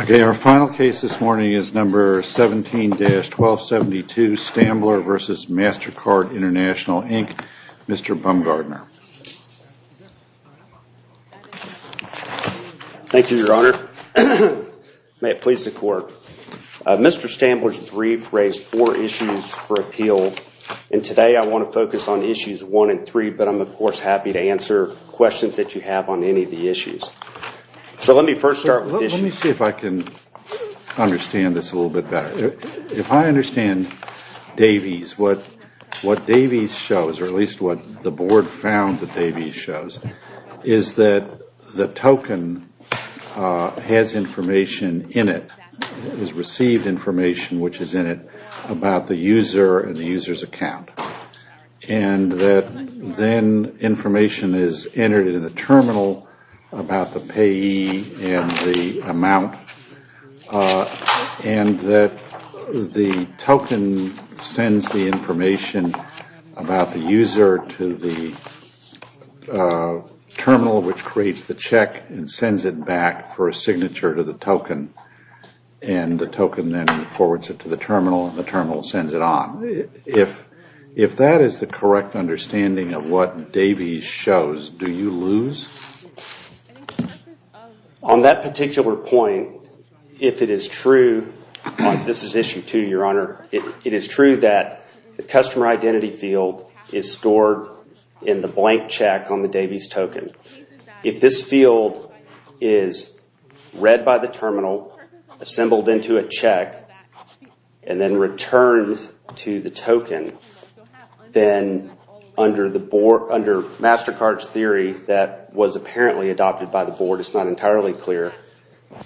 Okay, our final case this morning is No. 17-1272, Stambler v. MasterCard International Inc. Mr. Bumgardner. Thank you, Your Honor. May it please the Court. Mr. Stambler's brief raised four issues for appeal, and today I want to focus on issues one and three, but I'm, of course, happy to answer questions that you have on any of the issues. So let me first start with issues. Let me see if I can understand this a little bit better. If I understand Davies, what Davies shows, or at least what the Board found that Davies shows, is that the token has information in it, has received information which is in it, about the user and the user's account. And that then information is entered into the terminal about the payee and the amount, and that the token sends the information about the user to the terminal which creates the check and sends it back for a signature to the token. And the token then forwards it to the terminal, and the terminal sends it on. If that is the correct understanding of what Davies shows, do you lose? On that particular point, if it is true, this is issue two, Your Honor, it is true that the customer identity field is stored in the blank check on the Davies token. If this field is read by the terminal, assembled into a check, and then returned to the token, then under MasterCard's theory that was apparently adopted by the Board, it's not entirely clear,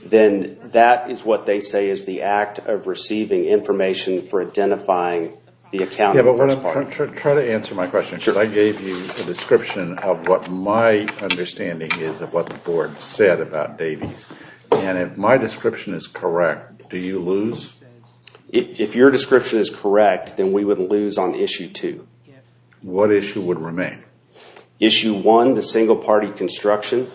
then that is what they say is the act of receiving information for identifying the account. Try to answer my question, because I gave you a description of what my understanding is of what the Board said about Davies. And if my description is correct, do you lose? If your description is correct, then we would lose on issue two. What issue would remain? Issue one, the single party construction.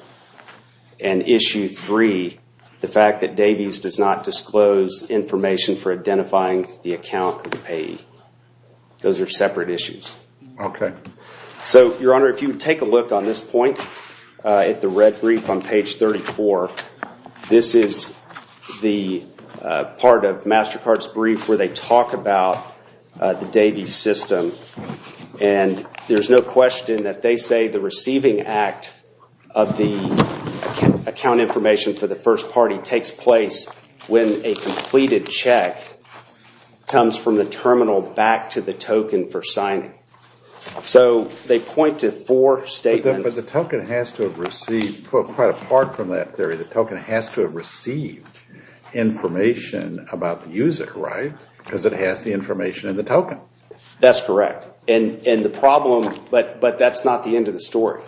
And issue three, the fact that Davies does not disclose information for identifying the account of the payee. Those are separate issues. Okay. So, Your Honor, if you would take a look on this point, at the red brief on page 34, this is the part of MasterCard's brief where they talk about the Davies system. And there's no question that they say the receiving act of the account information for the first party takes place when a completed check comes from the terminal back to the token for signing. So, they point to four statements. But the token has to have received, quite apart from that theory, the token has to have received information about the user, right? Because it has the information in the token. That's correct. And the problem, but that's not the end of the story.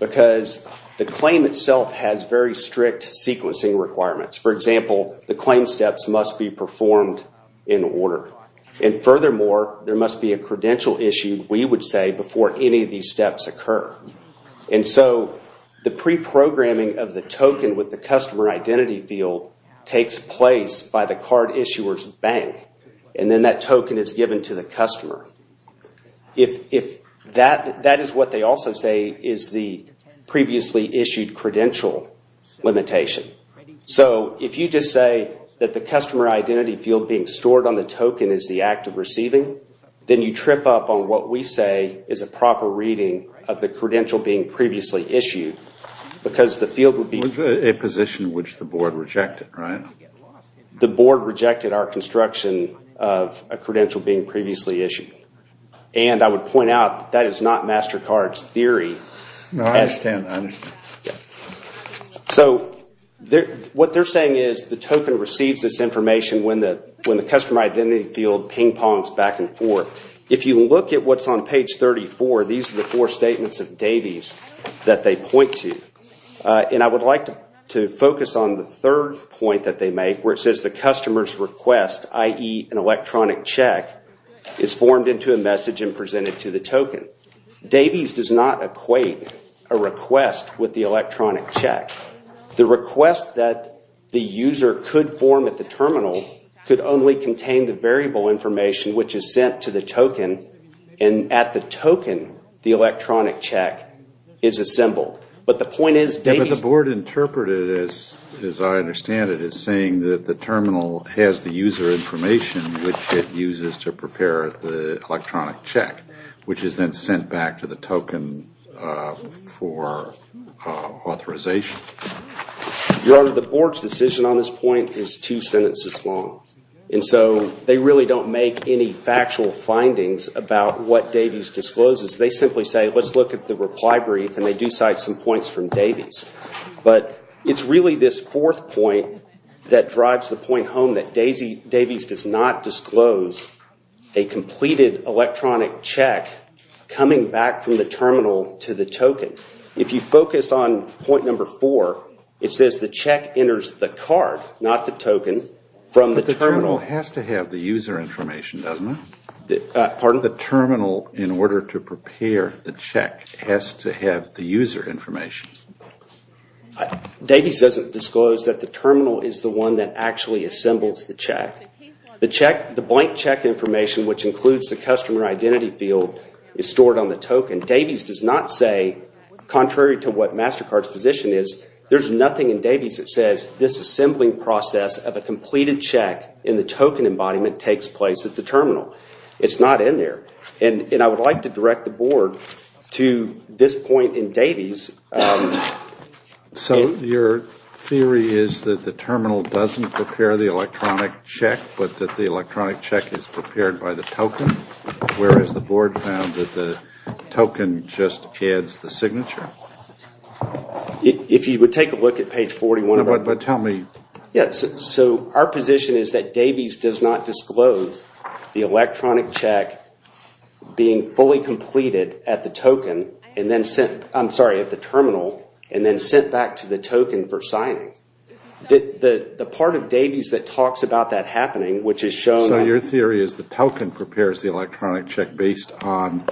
Because the claim itself has very strict sequencing requirements. For example, the claim steps must be performed in order. And furthermore, there must be a credential issue, we would say, before any of these steps occur. And so, the pre-programming of the token with the customer identity field takes place by the card issuer's bank. And then that token is given to the customer. That is what they also say is the previously issued credential limitation. So, if you just say that the customer identity field being stored on the token is the act of receiving, then you trip up on what we say is a proper reading of the credential being previously issued. Because the field would be... A position which the board rejected, right? The board rejected our construction of a credential being previously issued. And I would point out that is not MasterCard's theory. No, I understand. So, what they're saying is the token receives this information when the customer identity field ping-pongs back and forth. If you look at what's on page 34, these are the four statements of Davies that they point to. And I would like to focus on the third point that they make, where it says the customer's request, i.e. an electronic check, is formed into a message and presented to the token. Davies does not equate a request with the electronic check. The request that the user could form at the terminal could only contain the variable information which is sent to the token. And at the token, the electronic check is assembled. But the point is Davies... But the board interpreted it as, as I understand it, as saying that the terminal has the user information which it uses to prepare the electronic check, which is then sent back to the token for authorization. Your Honor, the board's decision on this point is two sentences long. And so they really don't make any factual findings about what Davies discloses. They simply say, let's look at the reply brief, and they do cite some points from Davies. But it's really this fourth point that drives the point home that Davies does not disclose a completed electronic check coming back from the terminal to the token. If you focus on point number four, it says the check enters the card, not the token, from the terminal. But the terminal has to have the user information, doesn't it? Pardon? The terminal, in order to prepare the check, has to have the user information. Davies doesn't disclose that the terminal is the one that actually assembles the check. The blank check information, which includes the customer identity field, is stored on the token. Davies does not say, contrary to what MasterCard's position is, there's nothing in Davies that says this assembling process of a completed check in the token embodiment takes place at the terminal. It's not in there. And I would like to direct the board to this point in Davies. So your theory is that the terminal doesn't prepare the electronic check, but that the electronic check is prepared by the token? Whereas the board found that the token just adds the signature? If you would take a look at page 41. But tell me. So our position is that Davies does not disclose the electronic check being fully completed at the token and then sent, I'm sorry, at the terminal and then sent back to the token for signing. The part of Davies that talks about that happening, which is shown. So your theory is the token prepares the electronic check based on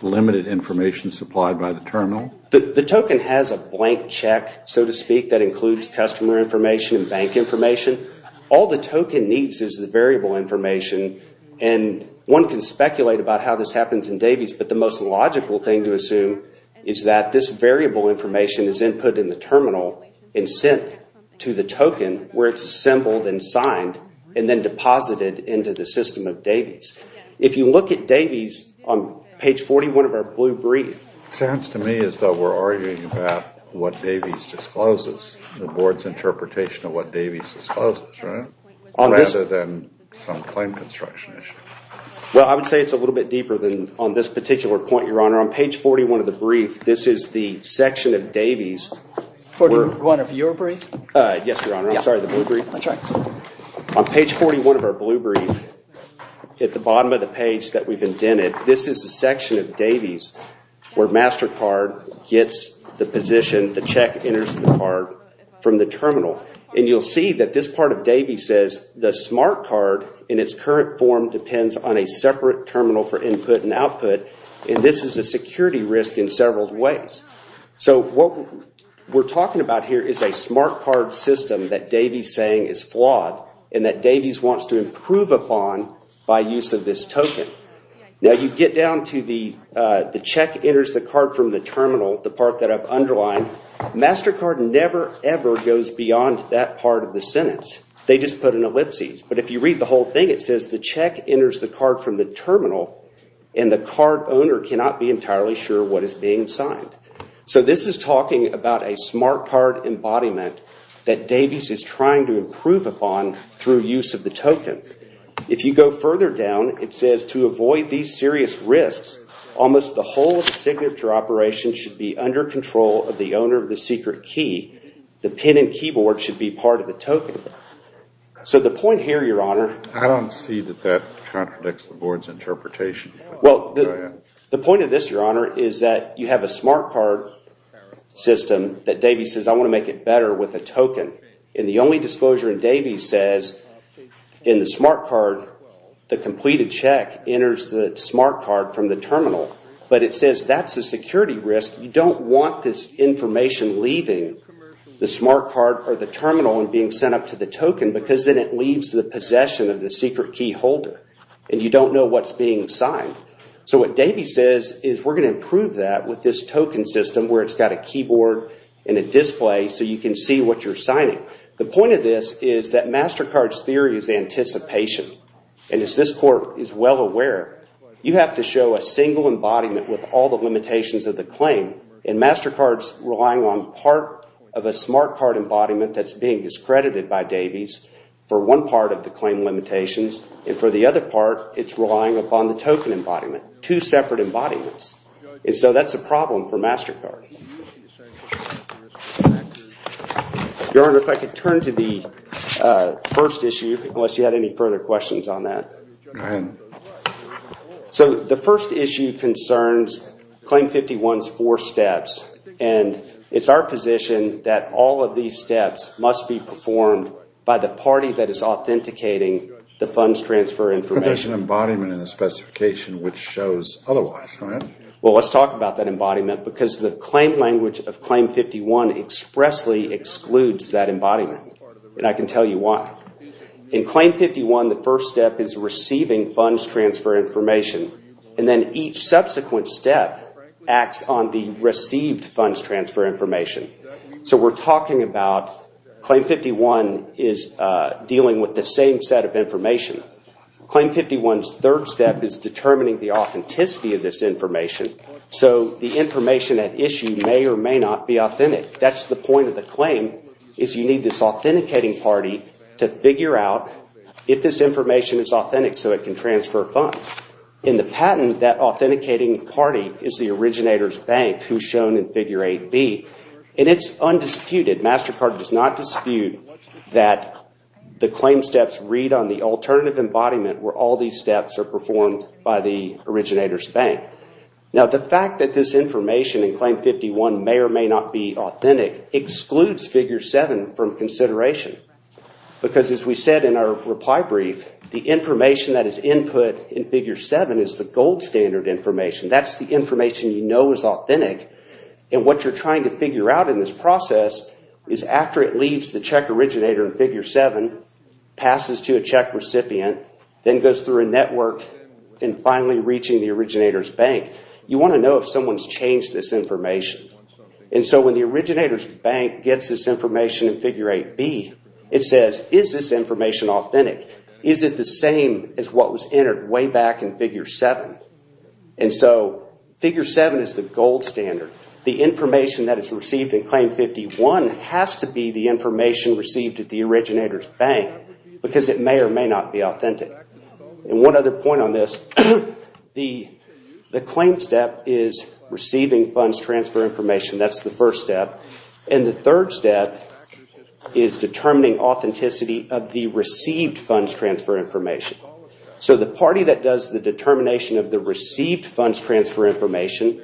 limited information supplied by the terminal? The token has a blank check, so to speak, that includes customer information and bank information. All the token needs is the variable information. And one can speculate about how this happens in Davies, but the most logical thing to assume is that this variable information is input in the terminal and sent to the token where it's assembled and signed and then deposited into the system of Davies. If you look at Davies on page 41 of our blue brief. It sounds to me as though we're arguing about what Davies discloses. The board's interpretation of what Davies discloses, right? Rather than some claim construction issue. Well, I would say it's a little bit deeper than on this particular point, Your Honor. On page 41 of the brief, this is the section of Davies. 41 of your brief? Yes, Your Honor. I'm sorry, the blue brief. That's right. On page 41 of our blue brief, at the bottom of the page that we've indented, this is a section of Davies where MasterCard gets the position, the check enters the card from the terminal. And you'll see that this part of Davies says, the smart card in its current form depends on a separate terminal for input and output. And this is a security risk in several ways. So what we're talking about here is a smart card system that Davies is saying is flawed and that Davies wants to improve upon by use of this token. Now you get down to the check enters the card from the terminal, the part that I've underlined. MasterCard never, ever goes beyond that part of the sentence. They just put an ellipsis. But if you read the whole thing, it says the check enters the card from the terminal and the card owner cannot be entirely sure what is being signed. So this is talking about a smart card embodiment that Davies is trying to improve upon through use of the token. If you go further down, it says to avoid these serious risks, almost the whole signature operation should be under control of the owner of the secret key. The pen and keyboard should be part of the token. So the point here, Your Honor. I don't see that that contradicts the board's interpretation. Well, the point of this, Your Honor, is that you have a smart card system that Davies says, I want to make it better with a token. And the only disclosure that Davies says in the smart card, the completed check enters the smart card from the terminal. But it says that's a security risk. You don't want this information leaving the smart card or the terminal and being sent up to the token because then it leaves the possession of the secret key holder. And you don't know what's being signed. So what Davies says is we're going to improve that with this token system where it's got a keyboard and a display so you can see what you're signing. The point of this is that MasterCard's theory is anticipation. And as this court is well aware, you have to show a single embodiment with all the limitations of the claim. And MasterCard's relying on part of a smart card embodiment that's being discredited by Davies for one part of the claim limitations. And for the other part, it's relying upon the token embodiment, two separate embodiments. And so that's a problem for MasterCard. Your Honor, if I could turn to the first issue, unless you had any further questions on that. Go ahead. So the first issue concerns Claim 51's four steps. And it's our position that all of these steps must be performed by the party that is authenticating the funds transfer information. But there's an embodiment in the specification which shows otherwise. Go ahead. Well, let's talk about that embodiment because the claim language of Claim 51 expressly excludes that embodiment. And I can tell you why. In Claim 51, the first step is receiving funds transfer information. And then each subsequent step acts on the received funds transfer information. So we're talking about Claim 51 is dealing with the same set of information. Claim 51's third step is determining the authenticity of this information. So the information at issue may or may not be authentic. That's the point of the claim is you need this authenticating party to figure out if this information is authentic so it can transfer funds. In the patent, that authenticating party is the originator's bank who's shown in Figure 8B. And it's undisputed. MasterCard does not dispute that the claim steps read on the alternative embodiment where all these steps are performed by the originator's bank. Now, the fact that this information in Claim 51 may or may not be authentic excludes Figure 7 from consideration. Because as we said in our reply brief, the information that is input in Figure 7 is the gold standard information. That's the information you know is authentic. And what you're trying to figure out in this process is after it leaves the check originator in Figure 7, passes to a check recipient, then goes through a network, and finally reaching the originator's bank. You want to know if someone's changed this information. And so when the originator's bank gets this information in Figure 8B, it says, is this information authentic? Is it the same as what was entered way back in Figure 7? And so Figure 7 is the gold standard. The information that is received in Claim 51 has to be the information received at the originator's bank because it may or may not be authentic. And one other point on this, the claim step is receiving funds transfer information. That's the first step. And the third step is determining authenticity of the received funds transfer information. So the party that does the determination of the received funds transfer information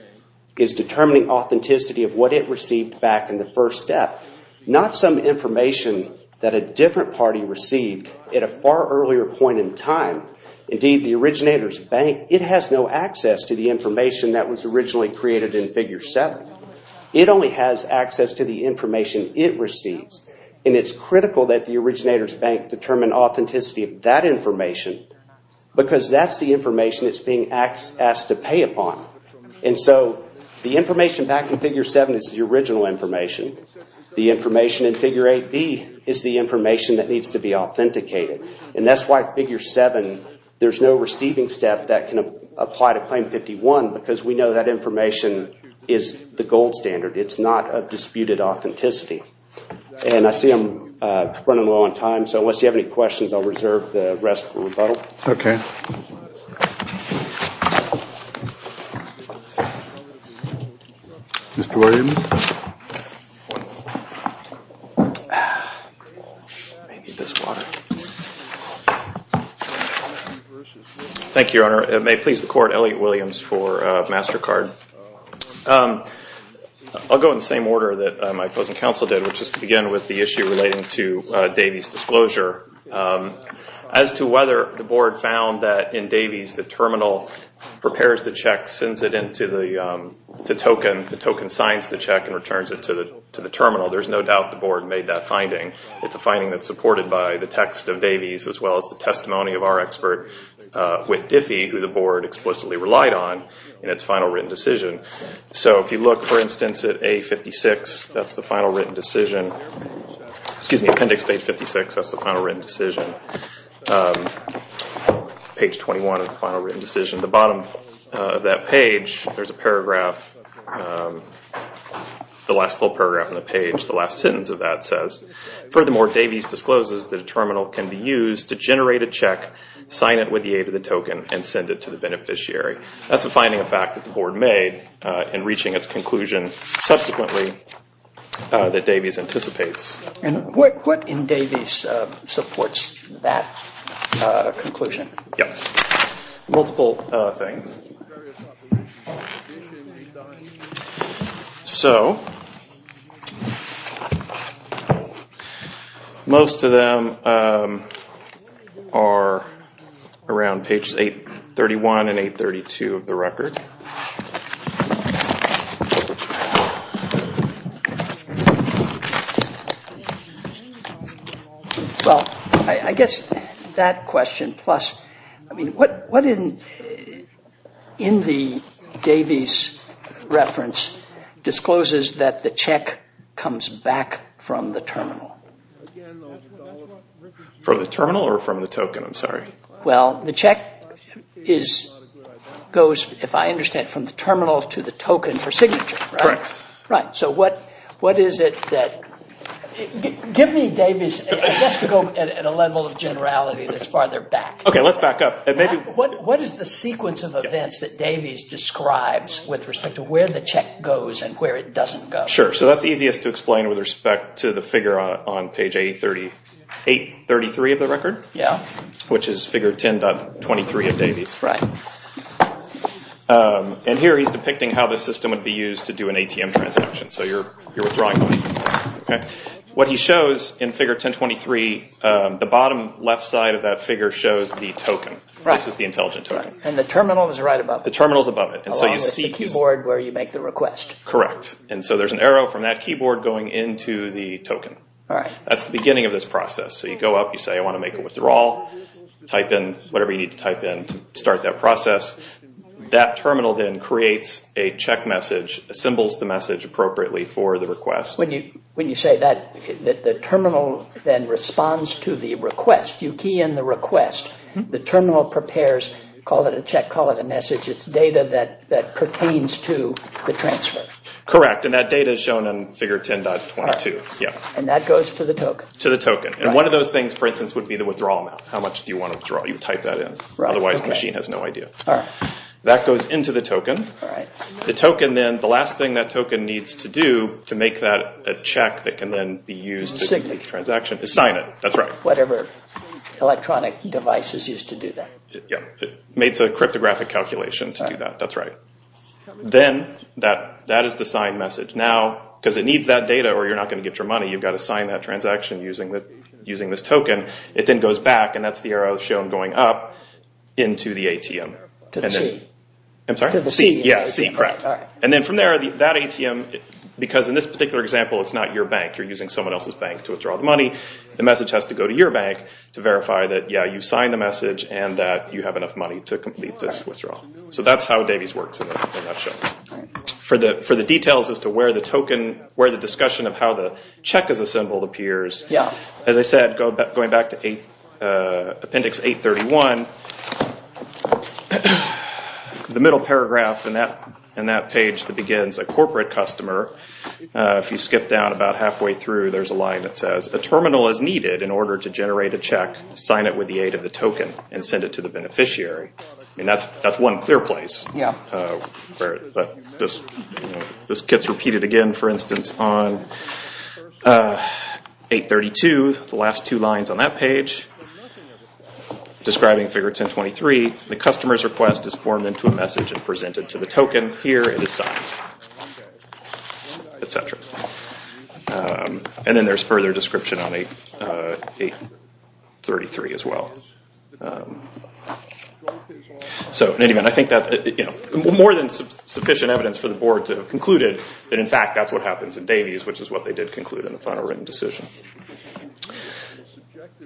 is determining authenticity of what it received back in the first step, not some information that a different party received at a far earlier point in time. Indeed, the originator's bank, it has no access to the information that was originally created in Figure 7. It only has access to the information it receives. And it's critical that the originator's bank determine authenticity of that information because that's the information it's being asked to pay upon. And so the information back in Figure 7 is the original information. The information in Figure 8B is the information that needs to be authenticated. And that's why Figure 7, there's no receiving step that can apply to Claim 51 because we know that information is the gold standard. It's not a disputed authenticity. And I see I'm running low on time, so unless you have any questions, I'll reserve the rest for rebuttal. Okay. Mr. Williams. Thank you, Your Honor. May it please the Court, Elliot Williams for MasterCard. I'll go in the same order that my opposing counsel did, which is to begin with the issue relating to Davies' disclosure. As to whether the Board found that in Davies' the terminal prepares the check, sends it into the token, the token signs the check, and returns it to the terminal, there's no doubt the Board made that finding. It's a finding that's supported by the text of Davies' as well as the testimony of our expert, Whit Diffie, who the Board explicitly relied on in its final written decision. So if you look, for instance, at A56, that's the final written decision. Excuse me, appendix page 56, that's the final written decision. Page 21 of the final written decision. At the bottom of that page, there's a paragraph, the last full paragraph on the page, the last sentence of that says, Furthermore, Davies discloses that a terminal can be used to generate a check, sign it with the aid of the token, and send it to the beneficiary. That's a finding of fact that the Board made in reaching its conclusion subsequently that Davies anticipates. And what in Davies supports that conclusion? Yeah, multiple things. So, most of them are around pages 831 and 832 of the record. Well, I guess that question plus, I mean, what in the Davies reference discloses that the check comes back from the terminal? For the terminal or from the token? I'm sorry. Well, the check is, goes, if I understand from the terminal to the token for signature, right? Correct. Right, so what is it that, give me Davies, just to go at a level of generality that's farther back. Okay, let's back up. What is the sequence of events that Davies describes with respect to where the check goes and where it doesn't go? Sure, so that's easiest to explain with respect to the figure on page 833 of the record, which is figure 10.23 of Davies. Right. And here he's depicting how the system would be used to do an ATM transaction, so you're withdrawing money. What he shows in figure 10.23, the bottom left side of that figure shows the token. Right. This is the intelligent token. And the terminal is right above it. The terminal is above it. Along with the keyboard where you make the request. Correct. And so there's an arrow from that keyboard going into the token. All right. That's the beginning of this process. So you go up, you say, I want to make a withdrawal, type in whatever you need to type in to start that process. That terminal then creates a check message, assembles the message appropriately for the request. When you say that, the terminal then responds to the request. You key in the request. The terminal prepares, call it a check, call it a message. It's data that pertains to the transfer. Correct. And that data is shown in figure 10.22. And that goes to the token. To the token. And one of those things, for instance, would be the withdrawal amount. How much do you want to withdraw? You type that in. Right. Otherwise the machine has no idea. All right. That goes into the token. All right. The token then, the last thing that token needs to do to make that a check that can then be used to complete the transaction is sign it. That's right. Whatever electronic devices used to do that. Yeah. It makes a cryptographic calculation to do that. That's right. Then that is the sign message. Now, because it needs that data or you're not going to get your money, you've got to sign that transaction using this token. It then goes back, and that's the arrow shown going up, into the ATM. To the C. I'm sorry? To the C. Yeah, C, correct. All right. And then from there, that ATM, because in this particular example, it's not your bank. You're using someone else's bank to withdraw the money. The message has to go to your bank to verify that, yeah, you signed the message and that you have enough money to complete this withdrawal. So that's how Davies works in a nutshell. All right. For the details as to where the token, where the discussion of how the check is assembled appears, as I said, going back to Appendix 831, the middle paragraph in that page that begins, a corporate customer, if you skip down about halfway through, there's a line that says, a terminal is needed in order to generate a check, sign it with the aid of the token, and send it to the beneficiary. That's one clear place. This gets repeated again, for instance, on 832, the last two lines on that page, describing Figure 1023, the customer's request is formed into a message and presented to the token. Here it is signed, et cetera. And then there's further description on 833 as well. So in any event, I think that's more than sufficient evidence for the board to conclude that, in fact, that's what happens in Davies, which is what they did conclude in the final written decision.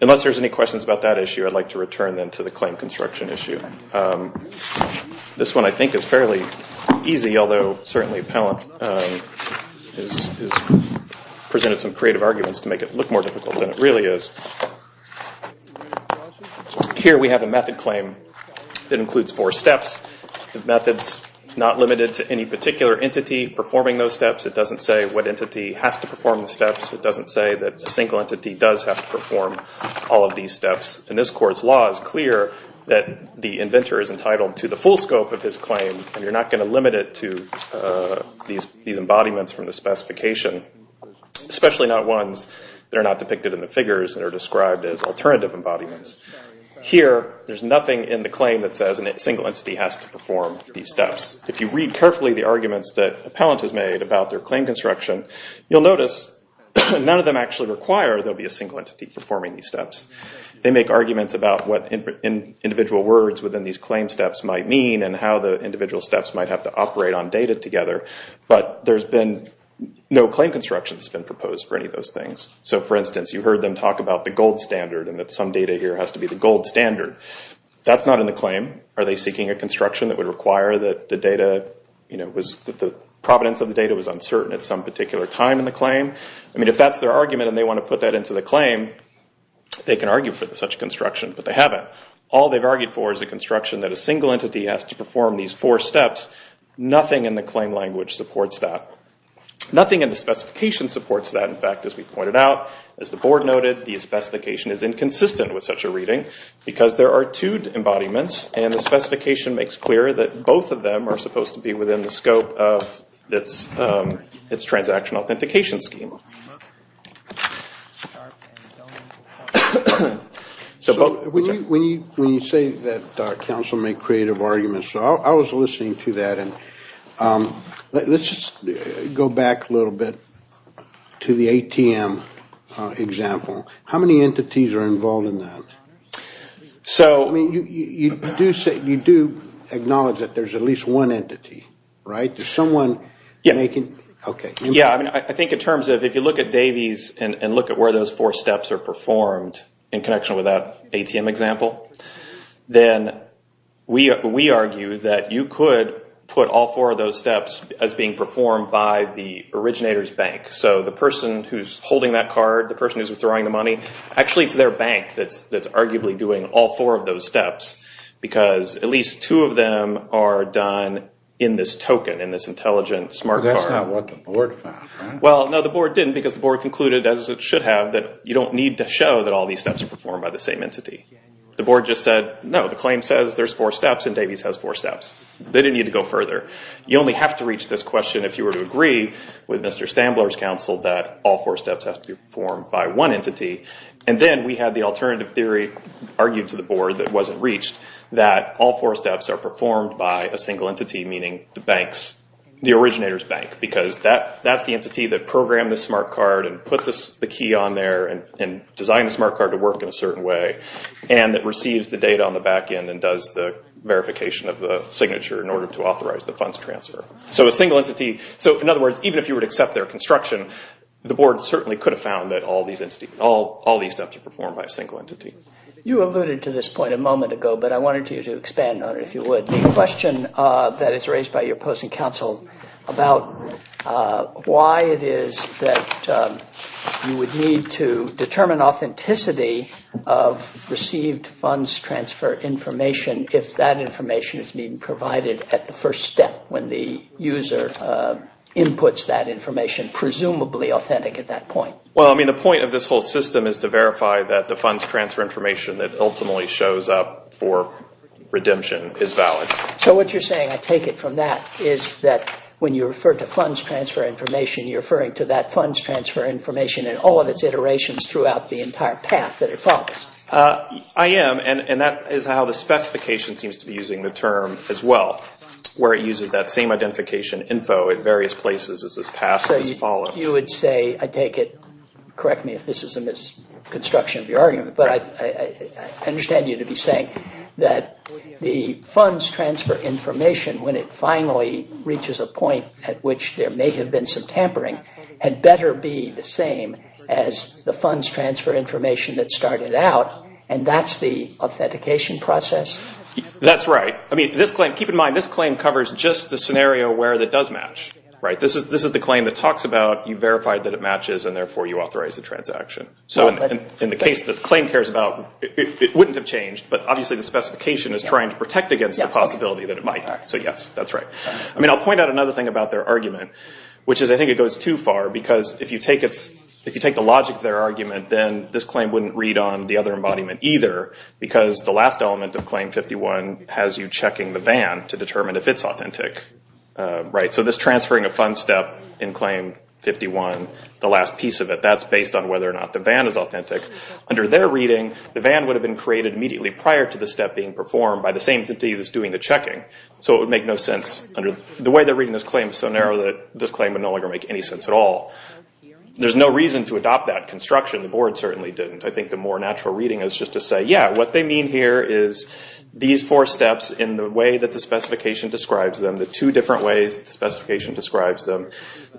Unless there's any questions about that issue, I'd like to return then to the claim construction issue. This one, I think, is fairly easy, although certainly Pallant has presented some creative arguments to make it look more difficult than it really is. Here we have a method claim that includes four steps. The method's not limited to any particular entity performing those steps. It doesn't say what entity has to perform the steps. It doesn't say that a single entity does have to perform all of these steps. And this court's law is clear that the inventor is entitled to the full scope of his claim, and you're not going to limit it to these embodiments from the specification, especially not ones that are not depicted in the figures and are described as alternative embodiments. Here there's nothing in the claim that says a single entity has to perform these steps. If you read carefully the arguments that Pallant has made about their claim construction, you'll notice none of them actually require there be a single entity performing these steps. They make arguments about what individual words within these claim steps might mean and how the individual steps might have to operate on data together, but no claim construction has been proposed for any of those things. So, for instance, you heard them talk about the gold standard and that some data here has to be the gold standard. That's not in the claim. Are they seeking a construction that would require that the data, that the provenance of the data was uncertain at some particular time in the claim? I mean, if that's their argument and they want to put that into the claim, they can argue for such a construction, but they haven't. All they've argued for is a construction that a single entity has to perform these four steps. Nothing in the claim language supports that. Nothing in the specification supports that. In fact, as we pointed out, as the board noted, the specification is inconsistent with such a reading because there are two embodiments and the specification makes clear that both of them are supposed to be within the scope of its transaction authentication scheme. So, when you say that counsel make creative arguments, I was listening to that and let's just go back a little bit to the ATM example. How many entities are involved in that? I mean, you do acknowledge that there's at least one entity, right? Yeah, I mean, I think in terms of if you look at Davies and look at where those four steps are performed in connection with that ATM example, then we argue that you could put all four of those steps as being performed by the originator's bank. So, the person who's holding that card, the person who's withdrawing the money, actually it's their bank that's arguably doing all four of those steps because at least two of them are done in this token, in this intelligent smart card. But that's not what the board found, right? Well, no, the board didn't because the board concluded, as it should have, that you don't need to show that all these steps are performed by the same entity. The board just said, no, the claim says there's four steps and Davies has four steps. They didn't need to go further. You only have to reach this question if you were to agree with Mr. Stambler's counsel that all four steps have to be performed by one entity. And then we had the alternative theory argued to the board that wasn't reached, that all four steps are performed by a single entity, meaning the originator's bank, because that's the entity that programmed the smart card and put the key on there and designed the smart card to work in a certain way, and that receives the data on the back end and does the verification of the signature in order to authorize the funds transfer. So, in other words, even if you were to accept their construction, the board certainly could have found that all these steps are performed by a single entity. You alluded to this point a moment ago, but I wanted you to expand on it, if you would. The question that is raised by your opposing counsel about why it is that you would need to determine authenticity of received funds transfer information if that information is being provided at the first step when the user inputs that information, presumably authentic at that point. Well, I mean, the point of this whole system is to verify that the funds transfer information that ultimately shows up for redemption is valid. So what you're saying, I take it from that, is that when you refer to funds transfer information, you're referring to that funds transfer information and all of its iterations throughout the entire path that it follows. I am, and that is how the specification seems to be using the term as well, where it uses that same identification info in various places as this path has followed. You would say, I take it, correct me if this is a misconstruction of your argument, but I understand you to be saying that the funds transfer information, when it finally reaches a point at which there may have been some tampering, had better be the same as the funds transfer information that started out, and that's the authentication process? That's right. I mean, keep in mind, this claim covers just the scenario where it does match. This is the claim that talks about you verified that it matches, and therefore you authorized the transaction. So in the case that the claim cares about, it wouldn't have changed, but obviously the specification is trying to protect against the possibility that it might. So yes, that's right. I mean, I'll point out another thing about their argument, which is I think it goes too far, because if you take the logic of their argument, then this claim wouldn't read on the other embodiment either, because the last element of Claim 51 has you checking the VAN to determine if it's authentic. So this transferring a fund step in Claim 51, the last piece of it, that's based on whether or not the VAN is authentic. Under their reading, the VAN would have been created immediately prior to the step being performed by the same entity that's doing the checking, so it would make no sense. The way they're reading this claim is so narrow that this claim would no longer make any sense at all. There's no reason to adopt that construction. The board certainly didn't. I think the more natural reading is just to say, yeah, what they mean here is these four steps in the way that the specification describes them, the two different ways the specification describes them,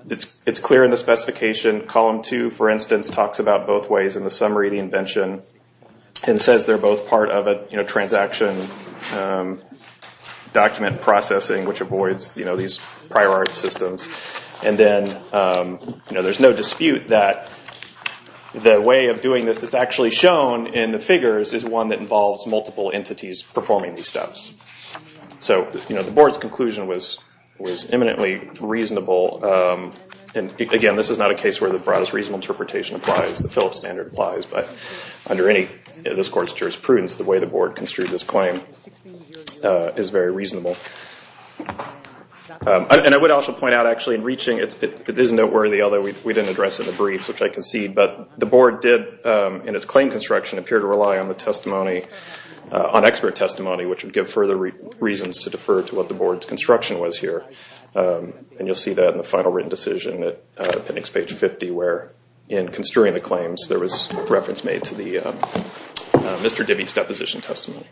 it's clear in the specification. Column 2, for instance, talks about both ways in the summary of the invention and says they're both part of a transaction document processing, which avoids these prior art systems. And then there's no dispute that the way of doing this that's actually shown in the figures is one that involves multiple entities performing these steps. So the board's conclusion was eminently reasonable. Again, this is not a case where the broadest reasonable interpretation applies. The Phillips standard applies, but under any of this Court's jurisprudence, the way the board construed this claim is very reasonable. And I would also point out, actually, in reaching it, it is noteworthy, although we didn't address it in the brief, which I concede, but the board did in its claim construction appear to rely on the testimony, on expert testimony, which would give further reasons to defer to what the board's construction was here. And you'll see that in the final written decision at appendix page 50, where in construing the claims there was reference made to Mr. Dibby's deposition testimony.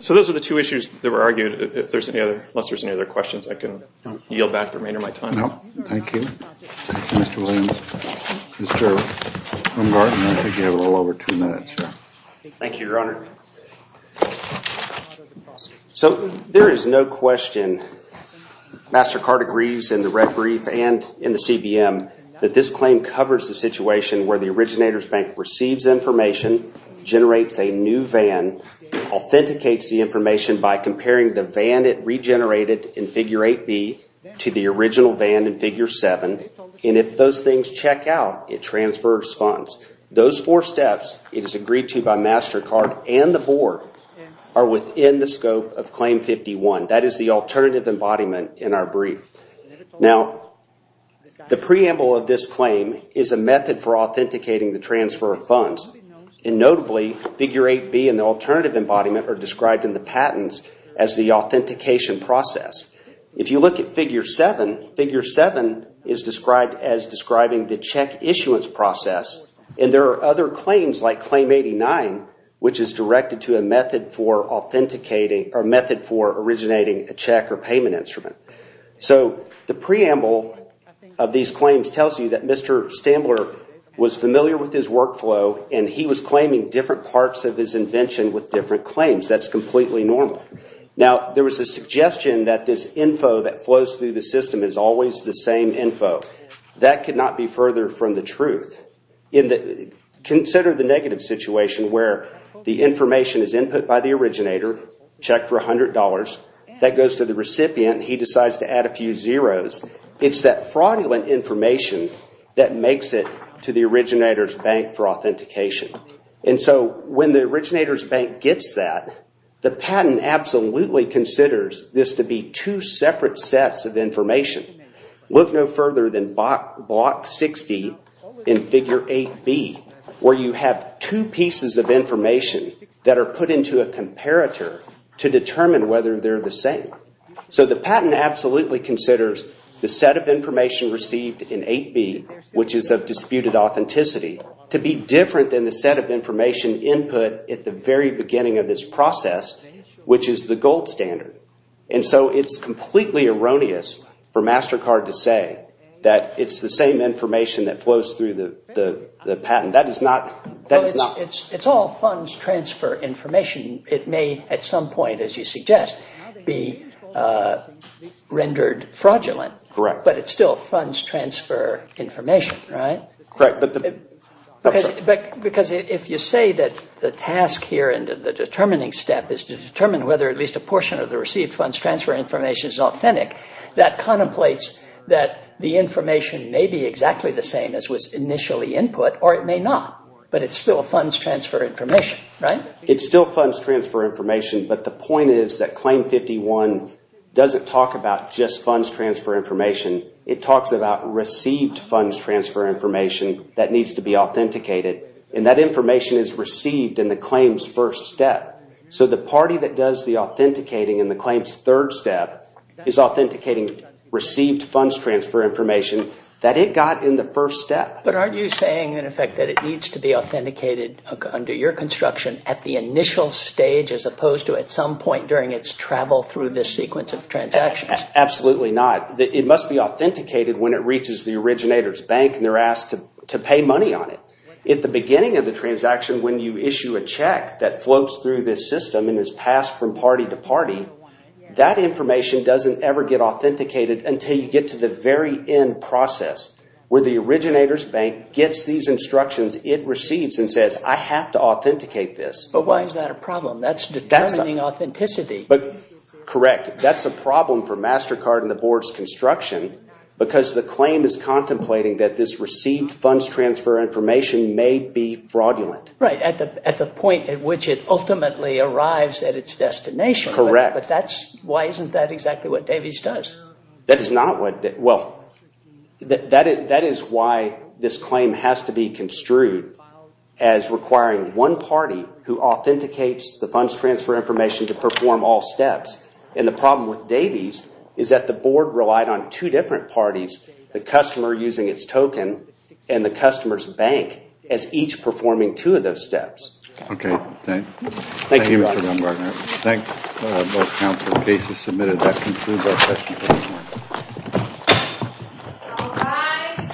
So those are the two issues that were argued. Unless there's any other questions, I can yield back the remainder of my time. No, thank you. Thank you, Mr. Williams. Mr. Baumgartner, I think you have a little over two minutes. Thank you, Your Honor. So there is no question. MasterCard agrees in the red brief and in the CBM that this claim covers the situation where the originator's bank receives information, generates a new VIN, authenticates the information by comparing the VIN it regenerated in figure 8B to the original VIN in figure 7, and if those things check out, it transfers funds. Those four steps, it is agreed to by MasterCard and the board, are within the scope of claim 51. That is the alternative embodiment in our brief. Now, the preamble of this claim is a method for authenticating the transfer of funds. And notably, figure 8B and the alternative embodiment are described in the patents as the authentication process. If you look at figure 7, figure 7 is described as describing the check issuance process. And there are other claims like claim 89, which is directed to a method for authenticating or a method for originating a check or payment instrument. So the preamble of these claims tells you that Mr. Stambler was familiar with his workflow and he was claiming different parts of his invention with different claims. That's completely normal. Now, there was a suggestion that this info that flows through the system is always the same info. That could not be further from the truth. Consider the negative situation where the information is input by the originator, checked for $100, that goes to the recipient, he decides to add a few zeros. It's that fraudulent information that makes it to the originator's bank for authentication. And so when the originator's bank gets that, the patent absolutely considers this to be two separate sets of information. Look no further than block 60 in figure 8B, where you have two pieces of information that are put into a comparator to determine whether they're the same. So the patent absolutely considers the set of information received in 8B, which is of disputed authenticity, to be different than the set of information input at the very beginning of this process, which is the gold standard. And so it's completely erroneous for MasterCard to say that it's the same information that flows through the patent. That is not... It's all funds transfer information. It may, at some point, as you suggest, be rendered fraudulent. Correct. But it's still funds transfer information, right? Correct. Because if you say that the task here and the determining step is to determine whether at least a portion of the received funds transfer information is authentic, that contemplates that the information may be exactly the same as was initially input, or it may not. But it's still funds transfer information, right? It's still funds transfer information, but the point is that Claim 51 doesn't talk about just funds transfer information. It talks about received funds transfer information that needs to be authenticated. And that information is received in the claim's first step. So the party that does the authenticating in the claim's third step is authenticating received funds transfer information that it got in the first step. But aren't you saying, in effect, that it needs to be authenticated under your construction at the initial stage as opposed to at some point during its travel through this sequence of transactions? Absolutely not. It must be authenticated when it reaches the originator's bank and they're asked to pay money on it. At the beginning of the transaction, when you issue a check that floats through this system and is passed from party to party, that information doesn't ever get authenticated until you get to the very end process where the originator's bank gets these instructions it receives and says, I have to authenticate this. But why is that a problem? That's determining authenticity. Correct. That's a problem for MasterCard and the Board's construction because the claim is contemplating that this received funds transfer information may be fraudulent. Right, at the point at which it ultimately arrives at its destination. Correct. But why isn't that exactly what Davies does? That is why this claim has to be construed as requiring one party who authenticates the funds transfer information to perform all steps. And the problem with Davies is that the Board relied on two different parties, the customer using its token and the customer's bank, as each performing two of those steps. Okay, thank you. Thank you, Mr. Baumgartner. Thank you. Both counsel cases submitted. That concludes our session for this morning. All rise.